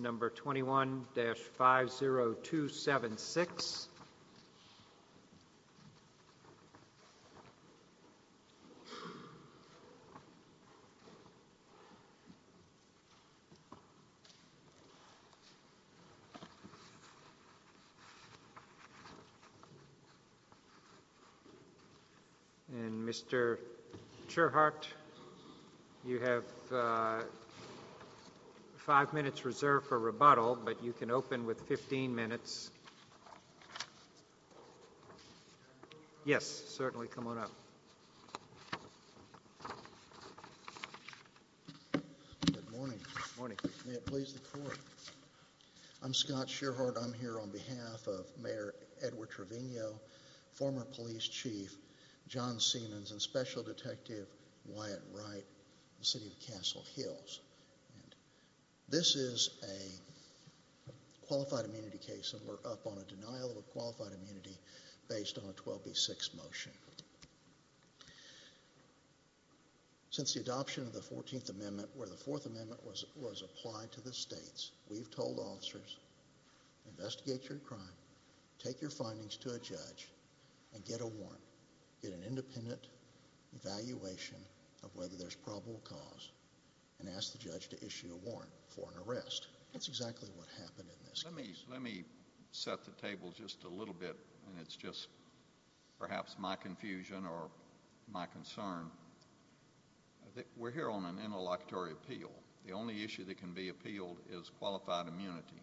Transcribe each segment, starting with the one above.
number 21-50276 and Mr. Cherhart, you have five minutes reserved for rebuttal, but you can open with 15 minutes. Yes, certainly, come on up. Good morning. May it please the court. I'm Scott Cherhart. I'm here on behalf of Mayor Edward Trevino, former police chief John Seamans, and Special Detective Wyatt Wright, City of Washington. I'm here to speak on a qualified immunity case, and we're up on a denial of qualified immunity based on a 12B6 motion. Since the adoption of the 14th Amendment, where the 4th Amendment was applied to the states, we've told officers, investigate your crime, take your findings to a judge, and get a warrant, get an independent evaluation of whether there's probable cause, and ask the judge to issue a warrant for an arrest. That's exactly what happened in this case. Let me set the table just a little bit, and it's just perhaps my confusion or my concern. We're here on an interlocutory appeal. The only issue that can be appealed is qualified immunity.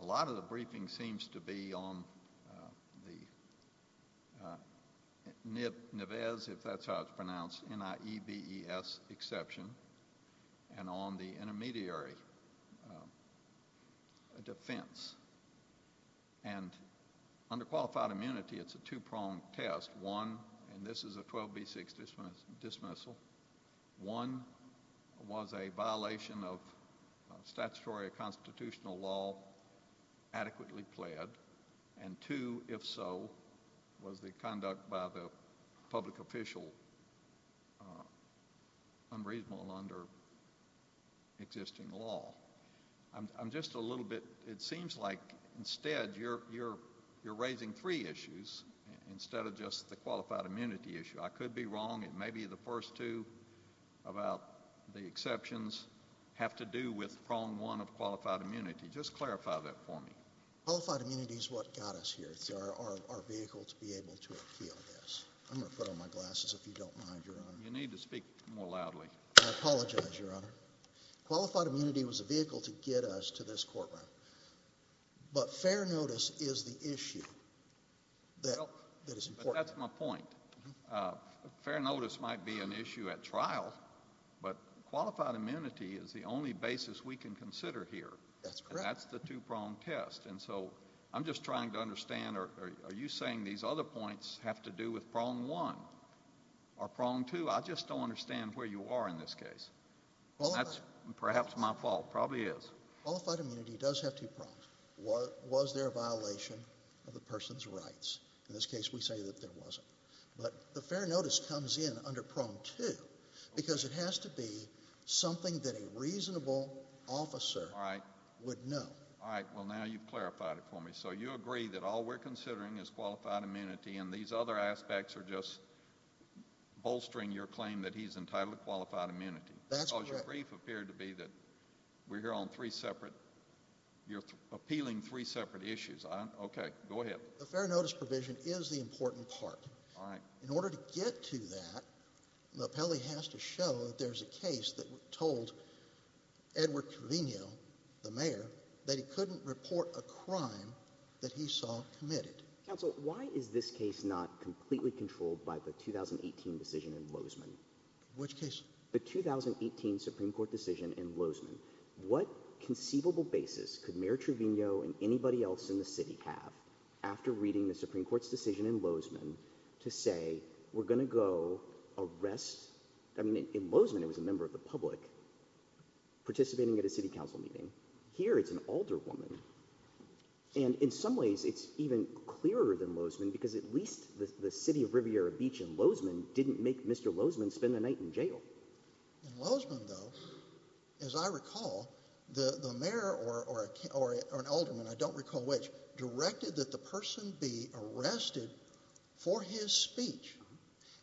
A lot of the briefing seems to be on the NIBES, if that's how it's pronounced, N-I-E-B-E-S exception, and on the intermediary defense. Under qualified immunity, it's a two-pronged test. One, and this is a 12B6 dismissal, one was a violation of statutory or constitutional law adequately pled, and two, if so, was the conduct by the public official unreasonable under existing law. I'm just a little bit, it seems like instead you're raising three issues instead of just the qualified immunity issue. I could be wrong. It may be the first two about the exceptions have to do with prong one of qualified immunity. Just clarify that for me. Qualified immunity is what got us here. It's our vehicle to be able to appeal this. I'm going to put on my glasses if you don't mind, Your Honor. You need to speak more loudly. I apologize, Your Honor. Qualified immunity was a vehicle to get us to this courtroom, but fair notice is the issue that is important. That's my point. Fair notice might be an issue at trial, but qualified immunity is the only basis we can consider here. That's correct. And that's the two-pronged test, and so I'm just trying to understand, are you saying these other points have to do with prong one or prong two? I just don't understand where you are in this case. That's perhaps my fault, probably is. Qualified immunity does have two prongs. Was there a violation of the person's rights? In this case, we say that there wasn't. But the fair notice comes in under prong two, because it has to be something that a reasonable officer would know. All right, well, now you've clarified it for me. So you agree that all we're considering is qualified immunity, and these other aspects are just bolstering your claim that he's entitled to qualified immunity. That's correct. Your brief appeared to be that we're here on three separate—you're appealing three separate issues. Okay, go ahead. The fair notice provision is the important part. All right. In order to get to that, the appellee has to show that there's a case that told Edward Carino, the mayor, that he couldn't report a crime that he saw committed. Counsel, why is this case not completely controlled by the 2018 decision in Lozman? Which case? The 2018 Supreme Court decision in Lozman. What conceivable basis could Mayor Trevino and anybody else in the city have, after reading the Supreme Court's decision in Lozman, to say, we're going to go arrest—I mean, in Lozman, it was a member of the public participating at a city council meeting. Here, it's an alder woman. And in some ways, it's even clearer than Lozman, because at least the city of Riviera In Lozman, though, as I recall, the mayor or an alderman—I don't recall which—directed that the person be arrested for his speech.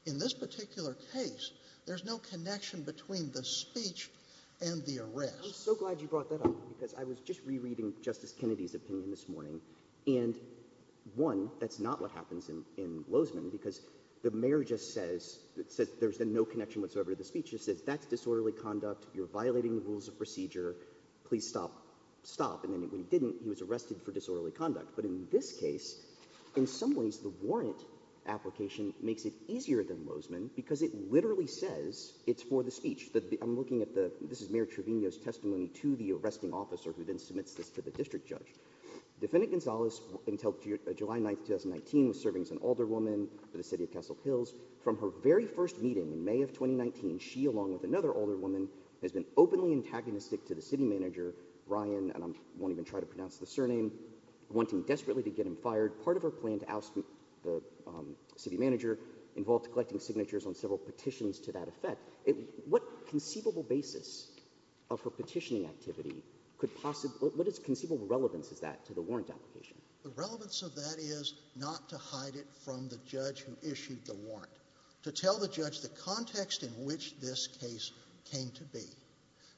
In this particular case, there's no connection between the speech and the arrest. I'm so glad you brought that up, because I was just rereading Justice Kennedy's opinion this morning, and, one, that's not what happens in Lozman, because the mayor just says—says there's no connection whatsoever to the speech. He says, that's disorderly conduct. You're violating the rules of procedure. Please stop. Stop. And when he didn't, he was arrested for disorderly conduct. But in this case, in some ways, the warrant application makes it easier than Lozman, because it literally says it's for the speech. I'm looking at the—this is Mayor Trevino's testimony to the arresting officer, who then submits this to the district judge. Defendant Gonzalez, until July 9, 2019, was serving as an alder woman for the city of Russell Hills. From her very first meeting in May of 2019, she, along with another alder woman, has been openly antagonistic to the city manager, Ryan—and I won't even try to pronounce the surname—wanting desperately to get him fired. Part of her plan to oust the city manager involved collecting signatures on several petitions to that effect. What conceivable basis of her petitioning activity could possibly—what conceivable relevance is that to the warrant application? The relevance of that is not to hide it from the judge who issued the warrant. To tell the judge the context in which this case came to be.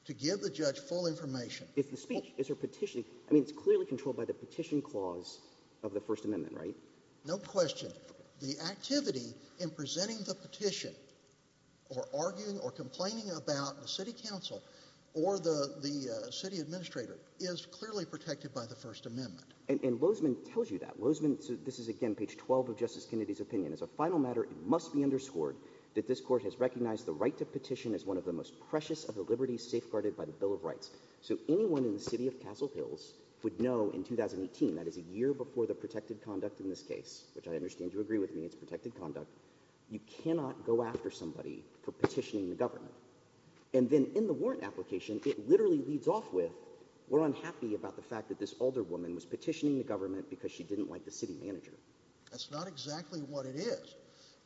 To give the judge full information. If the speech—is her petition—I mean, it's clearly controlled by the petition clause of the First Amendment, right? No question. The activity in presenting the petition or arguing or complaining about the city council or the city administrator is clearly protected by the First Amendment. And Lozman tells you that. Lozman—this is, again, page 12 of Justice Kennedy's opinion. As a final matter, it must be underscored that this Court has recognized the right to petition as one of the most precious of the liberties safeguarded by the Bill of Rights. So anyone in the city of Castle Hills would know in 2018—that is, a year before the protected conduct in this case, which I understand you agree with me, it's protected conduct—you cannot go after somebody for petitioning the government. And then in the warrant application, it literally leads off with, we're unhappy about the fact that this older woman was petitioning the government because she didn't like the city manager. That's not exactly what it is.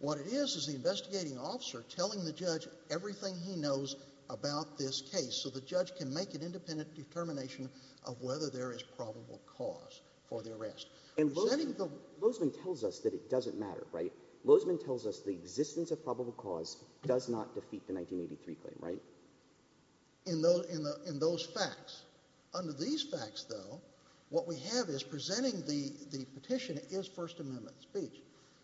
What it is is the investigating officer telling the judge everything he knows about this case so the judge can make an independent determination of whether there is probable cause for the arrest. And Lozman tells us that it doesn't matter, right? Lozman tells us the existence of probable cause does not defeat the 1983 claim, right? In those facts. Under these facts, though, what we have is presenting the petition is First Amendment speech.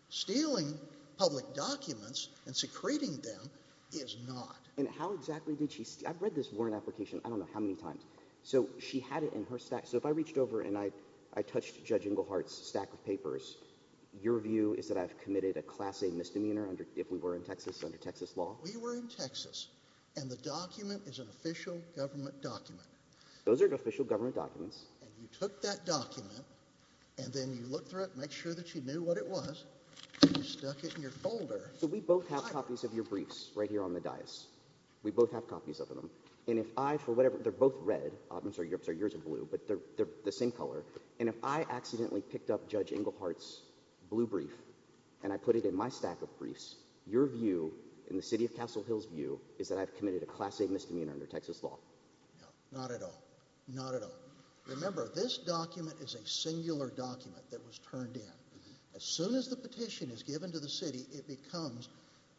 Stealing public documents and secreting them is not. And how exactly did she—I've read this warrant application, I don't know how many times—so she had it in her stack. So if I reached over and I touched Judge Englehart's stack of papers, your view is that I've committed a Class A misdemeanor if we were in Texas under Texas law? But we were in Texas and the document is an official government document. Those are official government documents. And you took that document and then you looked through it, make sure that you knew what it was, and you stuck it in your folder. So we both have copies of your briefs right here on the dais. We both have copies of them. And if I, for whatever—they're both red. I'm sorry, yours are blue, but they're the same color. And if I accidentally picked up Judge Englehart's blue brief and I put it in my stack of briefs, your view, in the City of Castle Hills view, is that I've committed a Class A misdemeanor under Texas law? No, not at all. Not at all. Remember, this document is a singular document that was turned in. As soon as the petition is given to the city, it becomes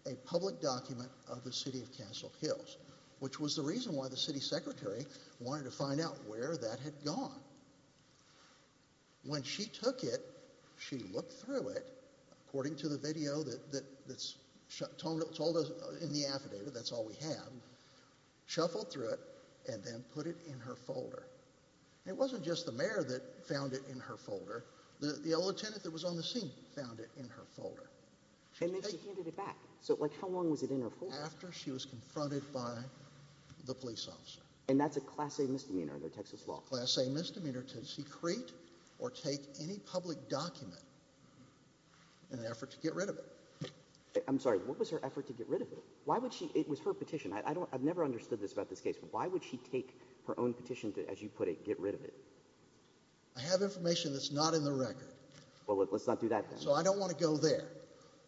a public document of the City of Castle Hills, which was the reason why the city secretary wanted to find out where that had gone. When she took it, she looked through it, according to the video that's told us in the affidavit, that's all we have, shuffled through it, and then put it in her folder. It wasn't just the mayor that found it in her folder. The lieutenant that was on the scene found it in her folder. And then she handed it back. So, like, how long was it in her folder? After she was confronted by the police officer. And that's a Class A misdemeanor under Texas law? Class A misdemeanor to secrete or take any public document in an effort to get rid of it. I'm sorry, what was her effort to get rid of it? Why would she, it was her petition. I've never understood this about this case. Why would she take her own petition to, as you put it, get rid of it? I have information that's not in the record. Well, let's not do that then. So I don't want to go there.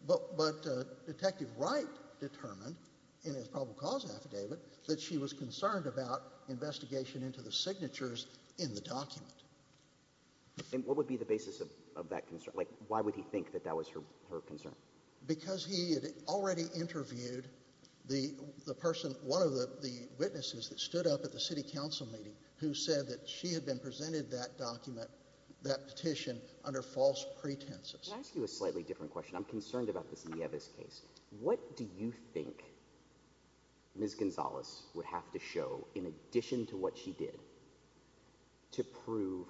But Detective Wright determined, in his probable cause affidavit, that she was concerned about her investigation into the signatures in the document. And what would be the basis of that concern? Like, why would he think that that was her concern? Because he had already interviewed the person, one of the witnesses that stood up at the city council meeting who said that she had been presented that document, that petition, under false pretenses. Can I ask you a slightly different question? I'm concerned about this Nieves case. What do you think Ms. Gonzalez would have to show, in addition to what she did, to prove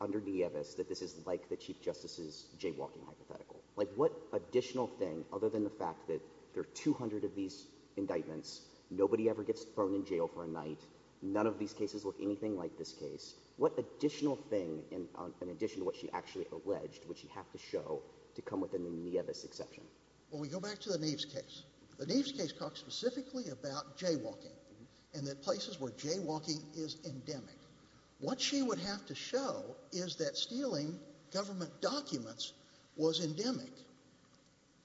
under Nieves that this is like the Chief Justice's jaywalking hypothetical? Like, what additional thing, other than the fact that there are 200 of these indictments, nobody ever gets thrown in jail for a night, none of these cases look anything like this case, what additional thing, in addition to what she actually alleged, would she have to show to come within the Nieves exception? Well, we go back to the Nieves case. The Nieves case talked specifically about jaywalking, and that places where jaywalking is endemic. What she would have to show is that stealing government documents was endemic,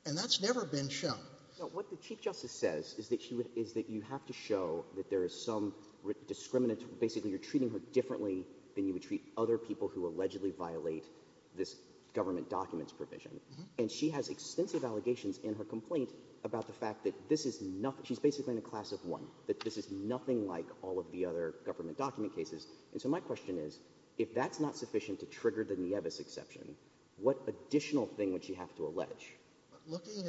and that's never been shown. No, what the Chief Justice says is that you have to show that there is some discriminant — basically, you're treating her differently than you would treat other people who allegedly violate this government documents provision. And she has extensive allegations in her complaint about the fact that this is nothing — she's basically in a class of one, that this is nothing like all of the other government document cases. And so my question is, if that's not sufficient to trigger the Nieves exception, what additional thing would she have to allege? Looking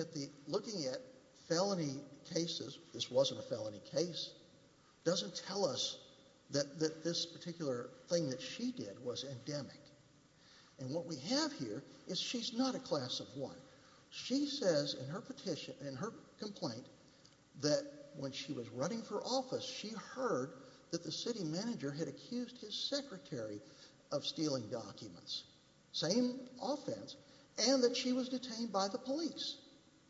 at felony cases — this wasn't a felony case — doesn't tell us that this particular thing that she did was endemic. And what we have here is she's not a class of one. She says in her petition, in her complaint, that when she was running for office, she heard that the city manager had accused his secretary of stealing documents. Same offense. And that she was detained by the police.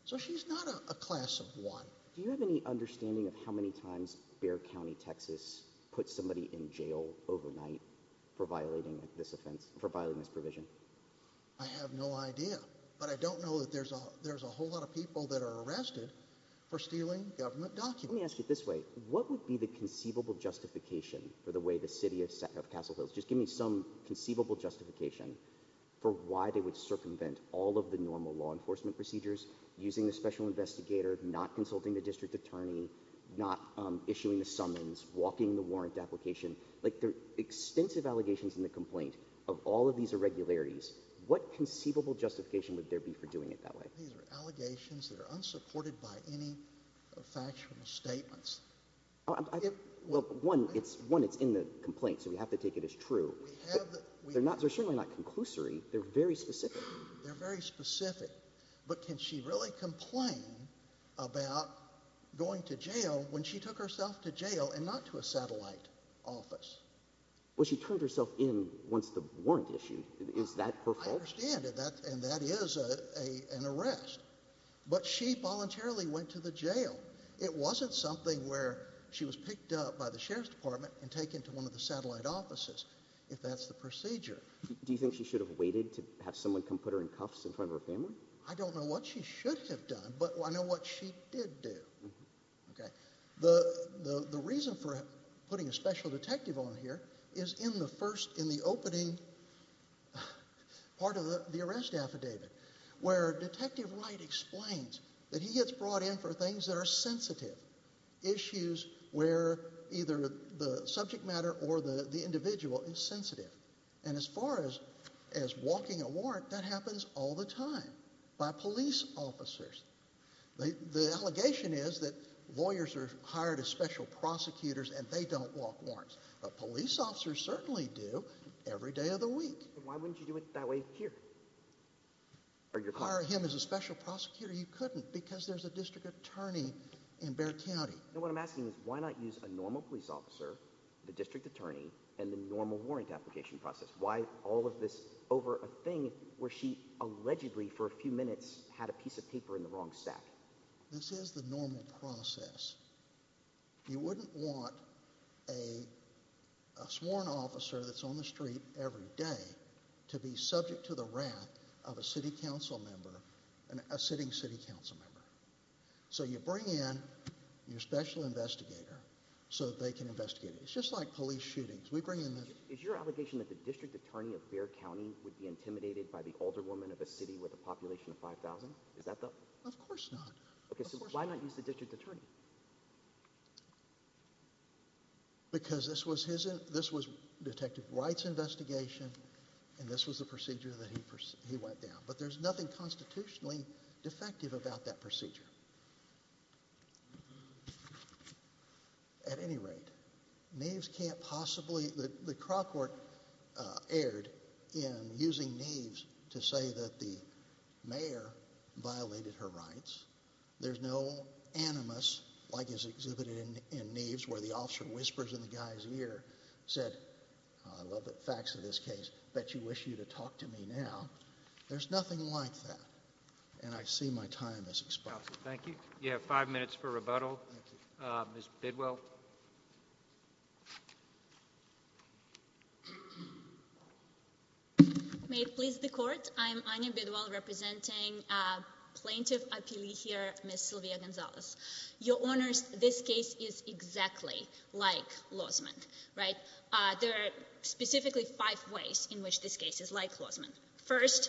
So she's not a class of one. Do you have any understanding of how many times Bexar County, Texas, put somebody in this offense for violating this provision? I have no idea. But I don't know that there's a whole lot of people that are arrested for stealing government documents. Let me ask you this way. What would be the conceivable justification for the way the city of Castle Hills — just give me some conceivable justification for why they would circumvent all of the normal law enforcement procedures, using the special investigator, not consulting the district attorney, not issuing the summons, walking the warrant application. Like, there are extensive allegations in the complaint of all of these irregularities. What conceivable justification would there be for doing it that way? These are allegations that are unsupported by any factual statements. Well, one, it's in the complaint, so we have to take it as true. They're certainly not conclusory. They're very specific. They're very specific. But can she really complain about going to jail when she took herself to jail and not to a satellite office? Well, she turned herself in once the warrant issued. Is that her fault? I understand. And that is an arrest. But she voluntarily went to the jail. It wasn't something where she was picked up by the sheriff's department and taken to one of the satellite offices, if that's the procedure. Do you think she should have waited to have someone come put her in cuffs in front of her family? I don't know what she should have done, but I know what she did do. The reason for putting a special detective on here is in the first, in the opening part of the arrest affidavit, where Detective Wright explains that he gets brought in for things that are sensitive, issues where either the subject matter or the individual is sensitive. And as far as walking a warrant, that happens all the time by police officers. The allegation is that lawyers are hired as special prosecutors and they don't walk warrants. But police officers certainly do every day of the week. Why wouldn't you do it that way here? Hire him as a special prosecutor? You couldn't because there's a district attorney in Bexar County. No, what I'm asking is why not use a normal police officer, the district attorney, and the normal warrant application process? Why all of this over a thing where she allegedly for a few minutes had a piece of paper in the wrong sack? This is the normal process. You wouldn't want a sworn officer that's on the street every day to be subject to the wrath of a city council member, a sitting city council member. So you bring in your special investigator so they can investigate it. It's just like police shootings. We bring in the... Is your allegation that the district attorney of Bexar County would be intimidated by the population of 5,000? Is that the... Of course not. Okay, so why not use the district attorney? Because this was detective Wright's investigation and this was the procedure that he went down. At any rate, Knaves can't possibly... The Crockport erred in using Knaves to say that the mayor violated her rights. There's no animus like is exhibited in Knaves where the officer whispers in the guy's ear, said, I love the facts of this case, bet you wish you'd have talked to me now. There's nothing like that. And I see my time has expired. Thank you. You have five minutes for rebuttal. Ms. Bidwell. May it please the court. I'm Anya Bidwell representing plaintiff here, Ms. Sylvia Gonzalez. Your honors, this case is exactly like Lausman, right? There are specifically five ways in which this case is like Lausman. First,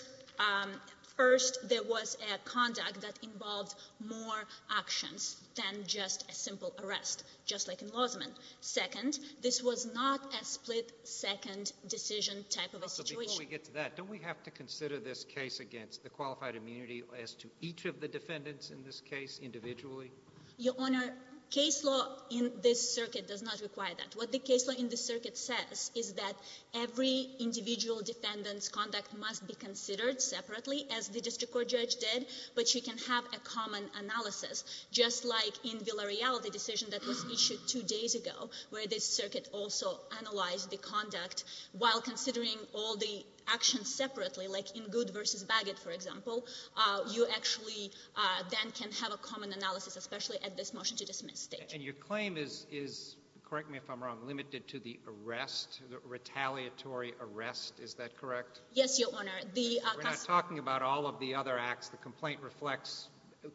there was a conduct that involved more actions than just a simple arrest, just like in Lausman. Second, this was not a split-second decision type of a situation. Before we get to that, don't we have to consider this case against the qualified immunity as to each of the defendants in this case individually? Your honor, case law in this circuit does not require that. What the case law in this circuit says is that every individual defendant's conduct must be considered separately, as the district court judge did, but you can have a common analysis, just like in Villarreal, the decision that was issued two days ago, where this circuit also analyzed the conduct while considering all the actions separately, like in Good v. Bagot, for example. You actually then can have a common analysis, especially at this motion-to-dismiss stage. And your claim is, correct me if I'm wrong, limited to the arrest, the retaliatory arrest, is that correct? Yes, your honor. We're not talking about all of the other acts. The complaint reflects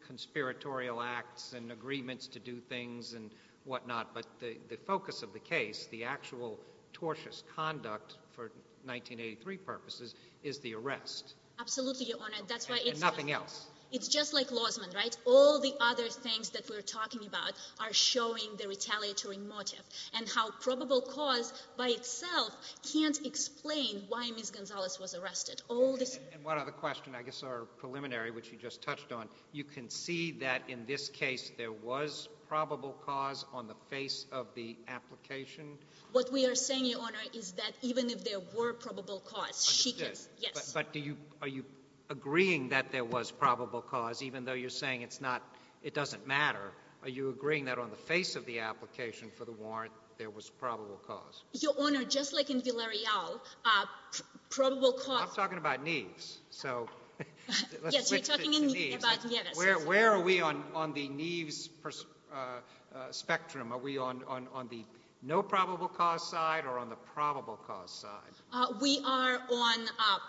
conspiratorial acts and agreements to do things and whatnot, but the focus of the case, the actual tortious conduct for 1983 purposes, is the arrest. Absolutely, your honor. And nothing else. It's just like Lausman, right? All the other things that we're talking about are showing the retaliatory motive, and how probable cause by itself can't explain why Ms. Gonzalez was arrested. And one other question, I guess our preliminary, which you just touched on, you can see that in this case there was probable cause on the face of the application? What we are saying, your honor, is that even if there were probable cause, she could— I understand. Yes. But are you agreeing that there was probable cause, even though you're saying it doesn't matter? Are you agreeing that on the face of the application for the warrant there was probable cause? Your honor, just like in Villarreal, probable cause— I'm talking about Neves, so let's switch to Neves. Yes, you're talking about Neves. Where are we on the Neves spectrum? Are we on the no probable cause side or on the probable cause side? We are on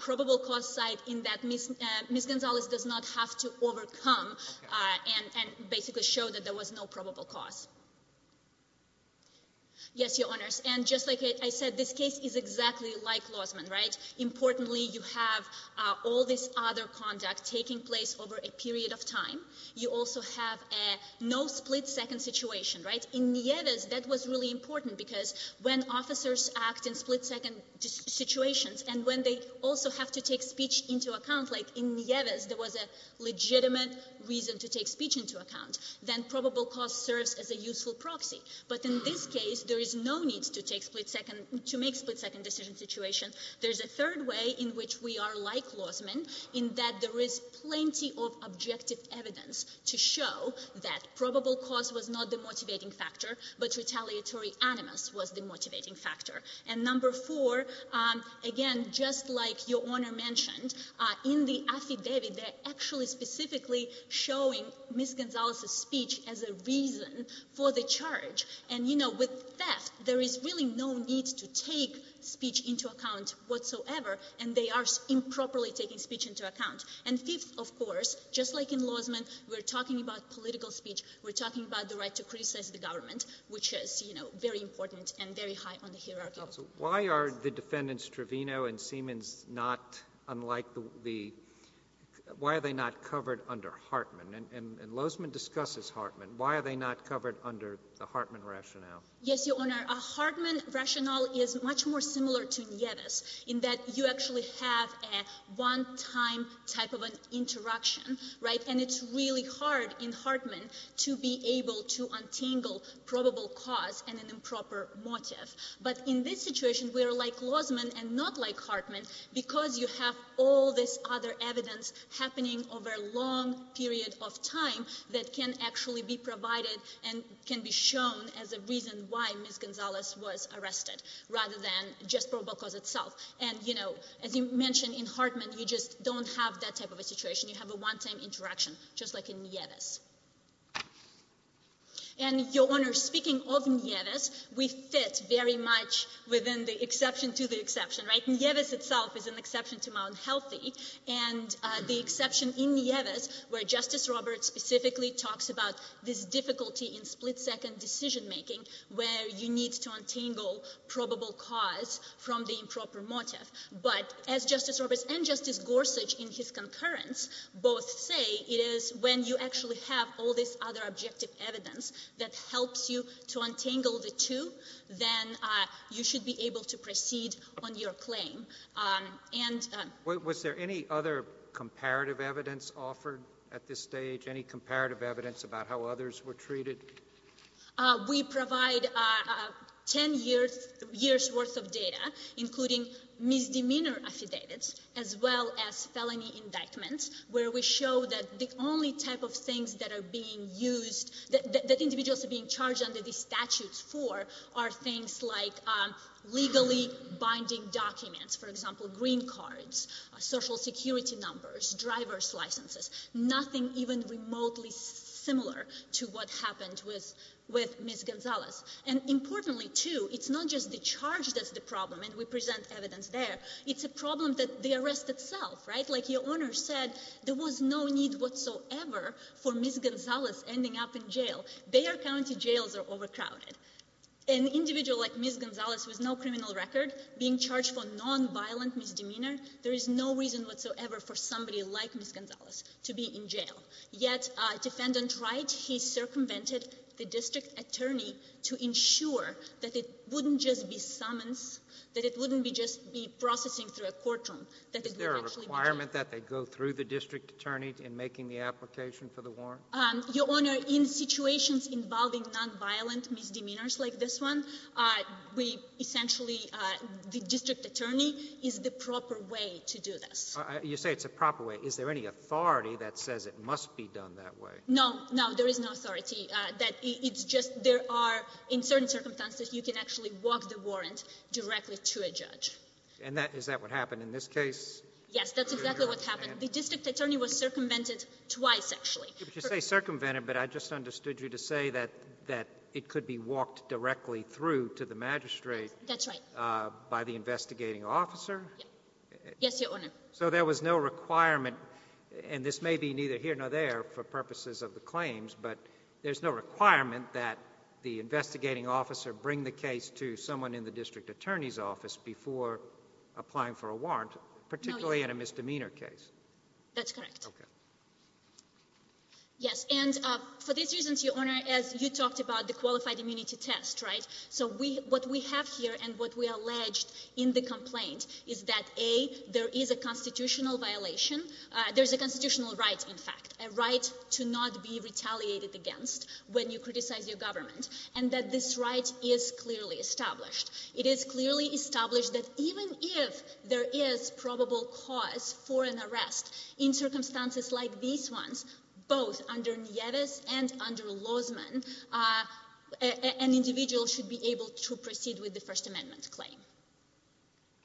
probable cause side in that Ms. Gonzalez does not have to overcome and basically show that there was no probable cause. Yes, your honors. And just like I said, this case is exactly like Lozman, right? Importantly, you have all this other conduct taking place over a period of time. You also have a no split-second situation, right? In Neves, that was really important because when officers act in split-second situations and when they also have to take speech into account, like in Neves, there was a legitimate reason to take speech into account, then probable cause serves as a useful proxy. But in this case, there is no need to take split-second—to make split-second decision situation. There is a third way in which we are like Lozman in that there is plenty of objective evidence to show that probable cause was not the motivating factor, but retaliatory animus was the motivating factor. And number four, again, just like your honor mentioned, in the affidavit, they're actually specifically showing Ms. Gonzalez's speech as a reason for the charge. And, you know, with theft, there is really no need to take speech into account whatsoever, and they are improperly taking speech into account. And fifth, of course, just like in Lozman, we're talking about political speech, we're talking about the right to criticize the government, which is, you know, very important and very high on the hierarchy. Why are the defendants Trevino and Siemens not unlike the—why are they not covered under Hartman? And Lozman discusses Hartman. Why are they not covered under the Hartman rationale? Yes, your honor. A Hartman rationale is much more similar to Neves in that you actually have a one-time type of an interaction, right, and it's really hard in Hartman to be able to untangle probable cause and an improper motive. But in this situation, we are like Lozman and not like Hartman because you have all this other evidence happening over a long period of time that can actually be provided and can be shown as a reason why Ms. Gonzalez was arrested rather than just probable cause itself. And, you know, as you mentioned, in Hartman, you just don't have that type of a situation. You have a one-time interaction, just like in Neves. And, your honor, speaking of Neves, we fit very much within the exception to the exception, right? Neves itself is an exception to Mount Healthy, and the exception in Neves where Justice Roberts specifically talks about this difficulty in split-second decision making where you need to untangle probable cause from the improper motive. But as Justice Roberts and Justice Gorsuch in his concurrence both say, it is when you actually have all this other objective evidence that helps you to untangle the two, then you should be able to proceed on your claim. And — Was there any other comparative evidence offered at this stage, any comparative evidence about how others were treated? We provide 10 years' worth of data, including misdemeanor affidavits as well as felony indictments, where we show that the only type of things that are being used — that individuals are being charged under these statutes for are things like legally binding documents, for example, green cards, social security numbers, driver's licenses, nothing even remotely similar to what happened with Ms. Gonzales. And importantly, too, it's not just the charge that's the problem, and we present evidence there, it's a problem that the arrest itself, right? Like your owner said, there was no need whatsoever for Ms. Gonzales ending up in jail. Bayer County jails are overcrowded. An individual like Ms. Gonzales with no criminal record being charged for to be in jail. Yet, Defendant Wright, he circumvented the district attorney to ensure that it wouldn't just be summons, that it wouldn't just be processing through a courtroom, that it would actually be jailed. Is there a requirement that they go through the district attorney in making the application for the warrant? Your Honor, in situations involving nonviolent misdemeanors like this one, we essentially — the district attorney is the proper way to do this. You say it's a proper way. Is there any authority that says it must be done that way? No. No, there is no authority. It's just there are, in certain circumstances, you can actually walk the warrant directly to a judge. And is that what happened in this case? Yes, that's exactly what happened. The district attorney was circumvented twice, actually. You say circumvented, but I just understood you to say that it could be walked directly through to the magistrate — That's right. — by the investigating officer? Yes, Your Honor. So there was no requirement, and this may be neither here nor there for purposes of the claims, but there's no requirement that the investigating officer bring the case to someone in the district attorney's office before applying for a warrant, particularly in a misdemeanor case? That's correct. Okay. Yes, and for these reasons, Your Honor, as you talked about, the qualified immunity test, right? So what we have here and what we alleged in the complaint is that, A, there is a constitutional violation — there's a constitutional right, in fact, a right to not be retaliated against when you criticize your government, and that this right is clearly established. It is clearly established that even if there is probable cause for an arrest in circumstances like these ones, both under Nieves and under Lozman, an individual should be able to proceed with the First Amendment claim.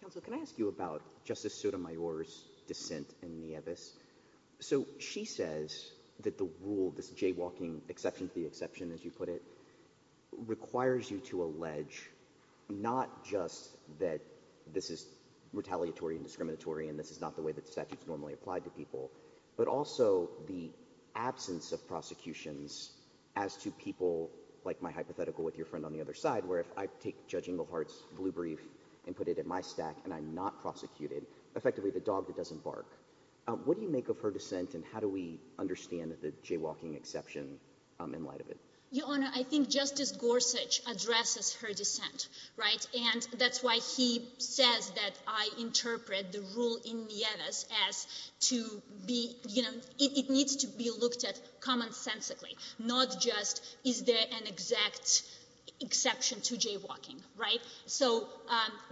Counsel, can I ask you about Justice Sotomayor's dissent in Nieves? So she says that the rule, this jaywalking exception to the exception, as you put it, requires you to allege not just that this is retaliatory and discriminatory and this is not the way that the statute is normally applied to people, but also the absence of prosecutions as to people, like my hypothetical with your friend on the other side, where if I take Judge Inglehart's blue brief and put it in my stack and I'm not prosecuted, effectively the dog that doesn't bark. What do you make of her dissent and how do we understand the jaywalking exception in light of it? Your Honor, I think Justice Gorsuch addresses her dissent, right? And that's why he says that I interpret the rule in Nieves as to be — you know, it needs to be looked at commonsensically, not just is there an exact exception to jaywalking, right? So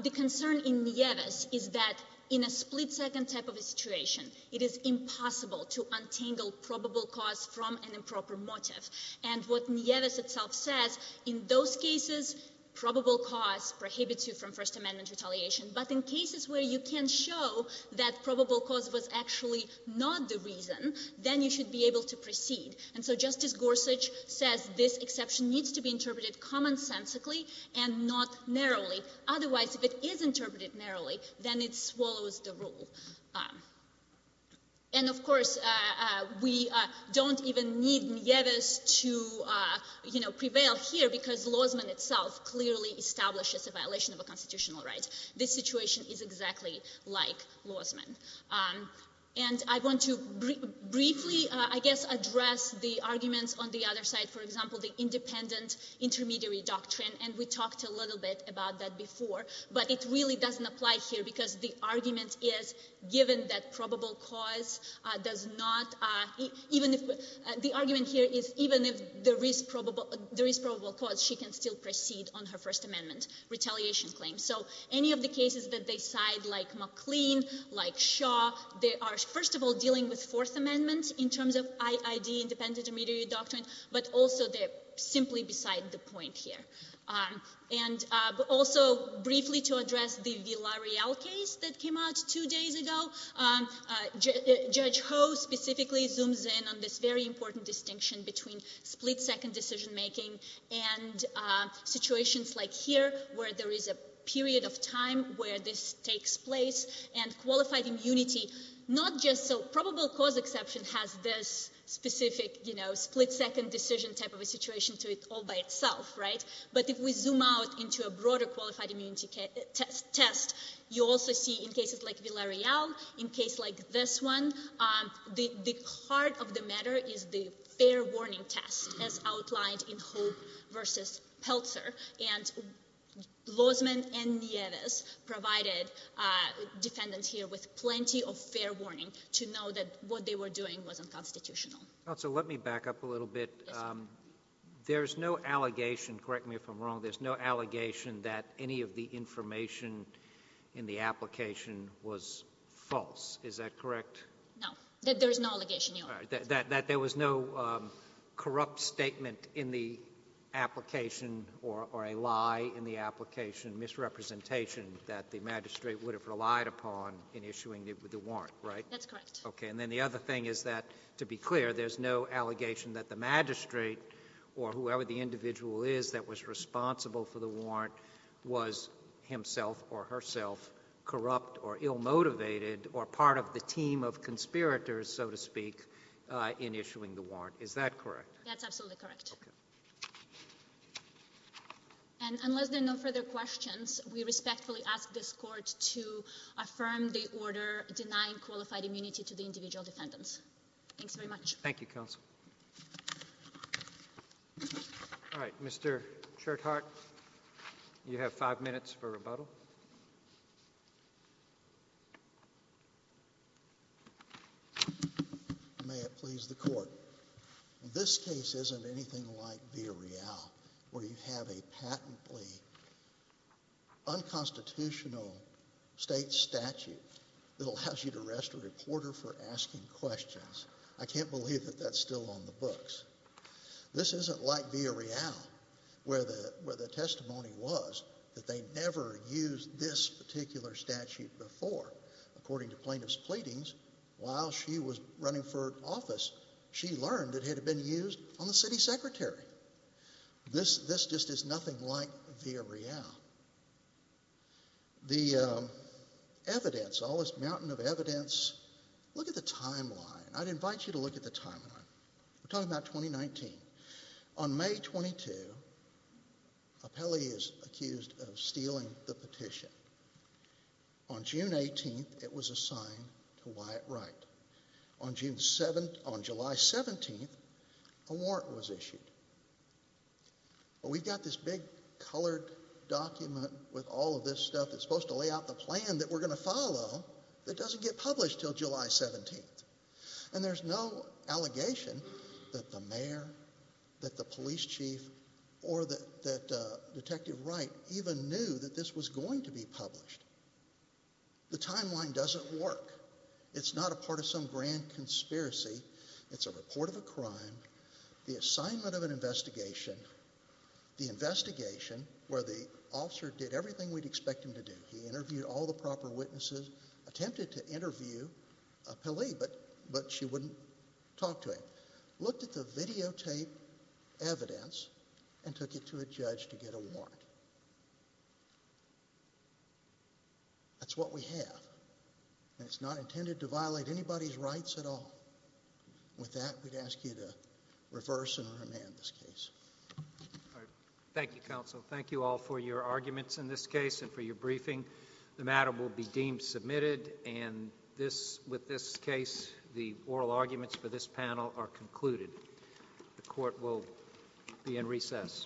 the concern in Nieves is that in a split-second type of a situation, it is impossible to untangle probable cause from an improper motive. And what Nieves itself says, in those cases, probable cause prohibits you from First Amendment retaliation, but in cases where you can show that probable cause was actually not the reason, then you should be able to proceed. And so Justice Gorsuch says this exception needs to be interpreted commonsensically and not narrowly. Otherwise, if it is interpreted narrowly, then it swallows the rule. And, of course, we don't even need Nieves to, you know, prevail here because Lozman itself clearly establishes a violation of a constitutional right. This situation is exactly like Lozman. And I want to briefly, I guess, address the arguments on the other side. For example, the independent intermediary doctrine, and we talked a little bit about that before, but it really doesn't apply here because the argument is given that probable cause does not — the argument here is even if there is probable cause, she can still proceed on her First Amendment retaliation claim. So any of the cases that they cite, like McLean, like Shaw, they are, first of all, dealing with Fourth Amendment in terms of IID, independent intermediary doctrine, but also they're simply beside the point here. And also briefly to address the Villarreal case that came out two days ago, Judge Ho specifically zooms in on this very important distinction between split-second decision-making and situations like here where there is a period of time where this takes place. And qualified immunity, not just so probable cause exception has this specific, you know, split-second decision type of a situation to it all by itself, right? But if we zoom out into a broader qualified immunity test, you also see in cases like Villarreal, in cases like this one, the heart of the matter is the fair warning test as outlined in Hope v. Peltzer. And Lozman and Nieves provided defendants here with plenty of fair warning to know that what they were doing was unconstitutional. So let me back up a little bit. There's no allegation — correct me if I'm wrong — there's no allegation that any of the information in the application was false. Is that correct? No. There is no allegation. That there was no corrupt statement in the application or a lie in the application, misrepresentation that the magistrate would have relied upon in issuing the warrant, right? That's correct. Okay. And then the other thing is that, to be clear, there's no allegation that the magistrate or whoever the individual is that was responsible for the warrant was himself or herself corrupt or ill-motivated or part of the team of conspirators, so to speak, in issuing the warrant. Is that correct? That's absolutely correct. Okay. And unless there are no further questions, we respectfully ask this Court to affirm the order denying qualified immunity to the individual defendants. Thanks very much. Thank you, counsel. All right. Mr. Cherthart, you have five minutes for rebuttal. May it please the Court. This case isn't anything like Villarreal, where you have a patently unconstitutional state statute that allows you to arrest a reporter for asking questions. I can't believe that that's still on the books. This isn't like Villarreal, where the testimony was that they never used this particular statute before. According to plaintiff's pleadings, while she was running for office, she learned it had been used on the city secretary. This just is nothing like Villarreal. The evidence, all this mountain of evidence, look at the timeline. I'd invite you to look at the timeline. We're talking about 2019. On May 22, Apelli is accused of stealing the petition. On June 18, it was assigned to Wyatt Wright. On July 17, a warrant was issued. We've got this big colored document with all of this stuff that's supposed to lay out the plan that we're going to follow that doesn't get published until July 17. There's no allegation that the mayor, that the police chief, or that Detective Wright even knew that this was going to be published. The timeline doesn't work. It's not a part of some grand conspiracy. It's a report of a crime, the assignment of an investigation, the investigation where the officer did everything we'd expect him to do. He interviewed all the proper witnesses, attempted to interview Apelli, but she wouldn't talk to him. Looked at the videotape evidence and took it to a judge to get a warrant. That's what we have, and it's not intended to violate anybody's rights at all. With that, we'd ask you to reverse and remand this case. Thank you, counsel. Thank you all for your arguments in this case and for your briefing. The matter will be deemed submitted, and with this case, the oral arguments for this panel are concluded. The court will be in recess.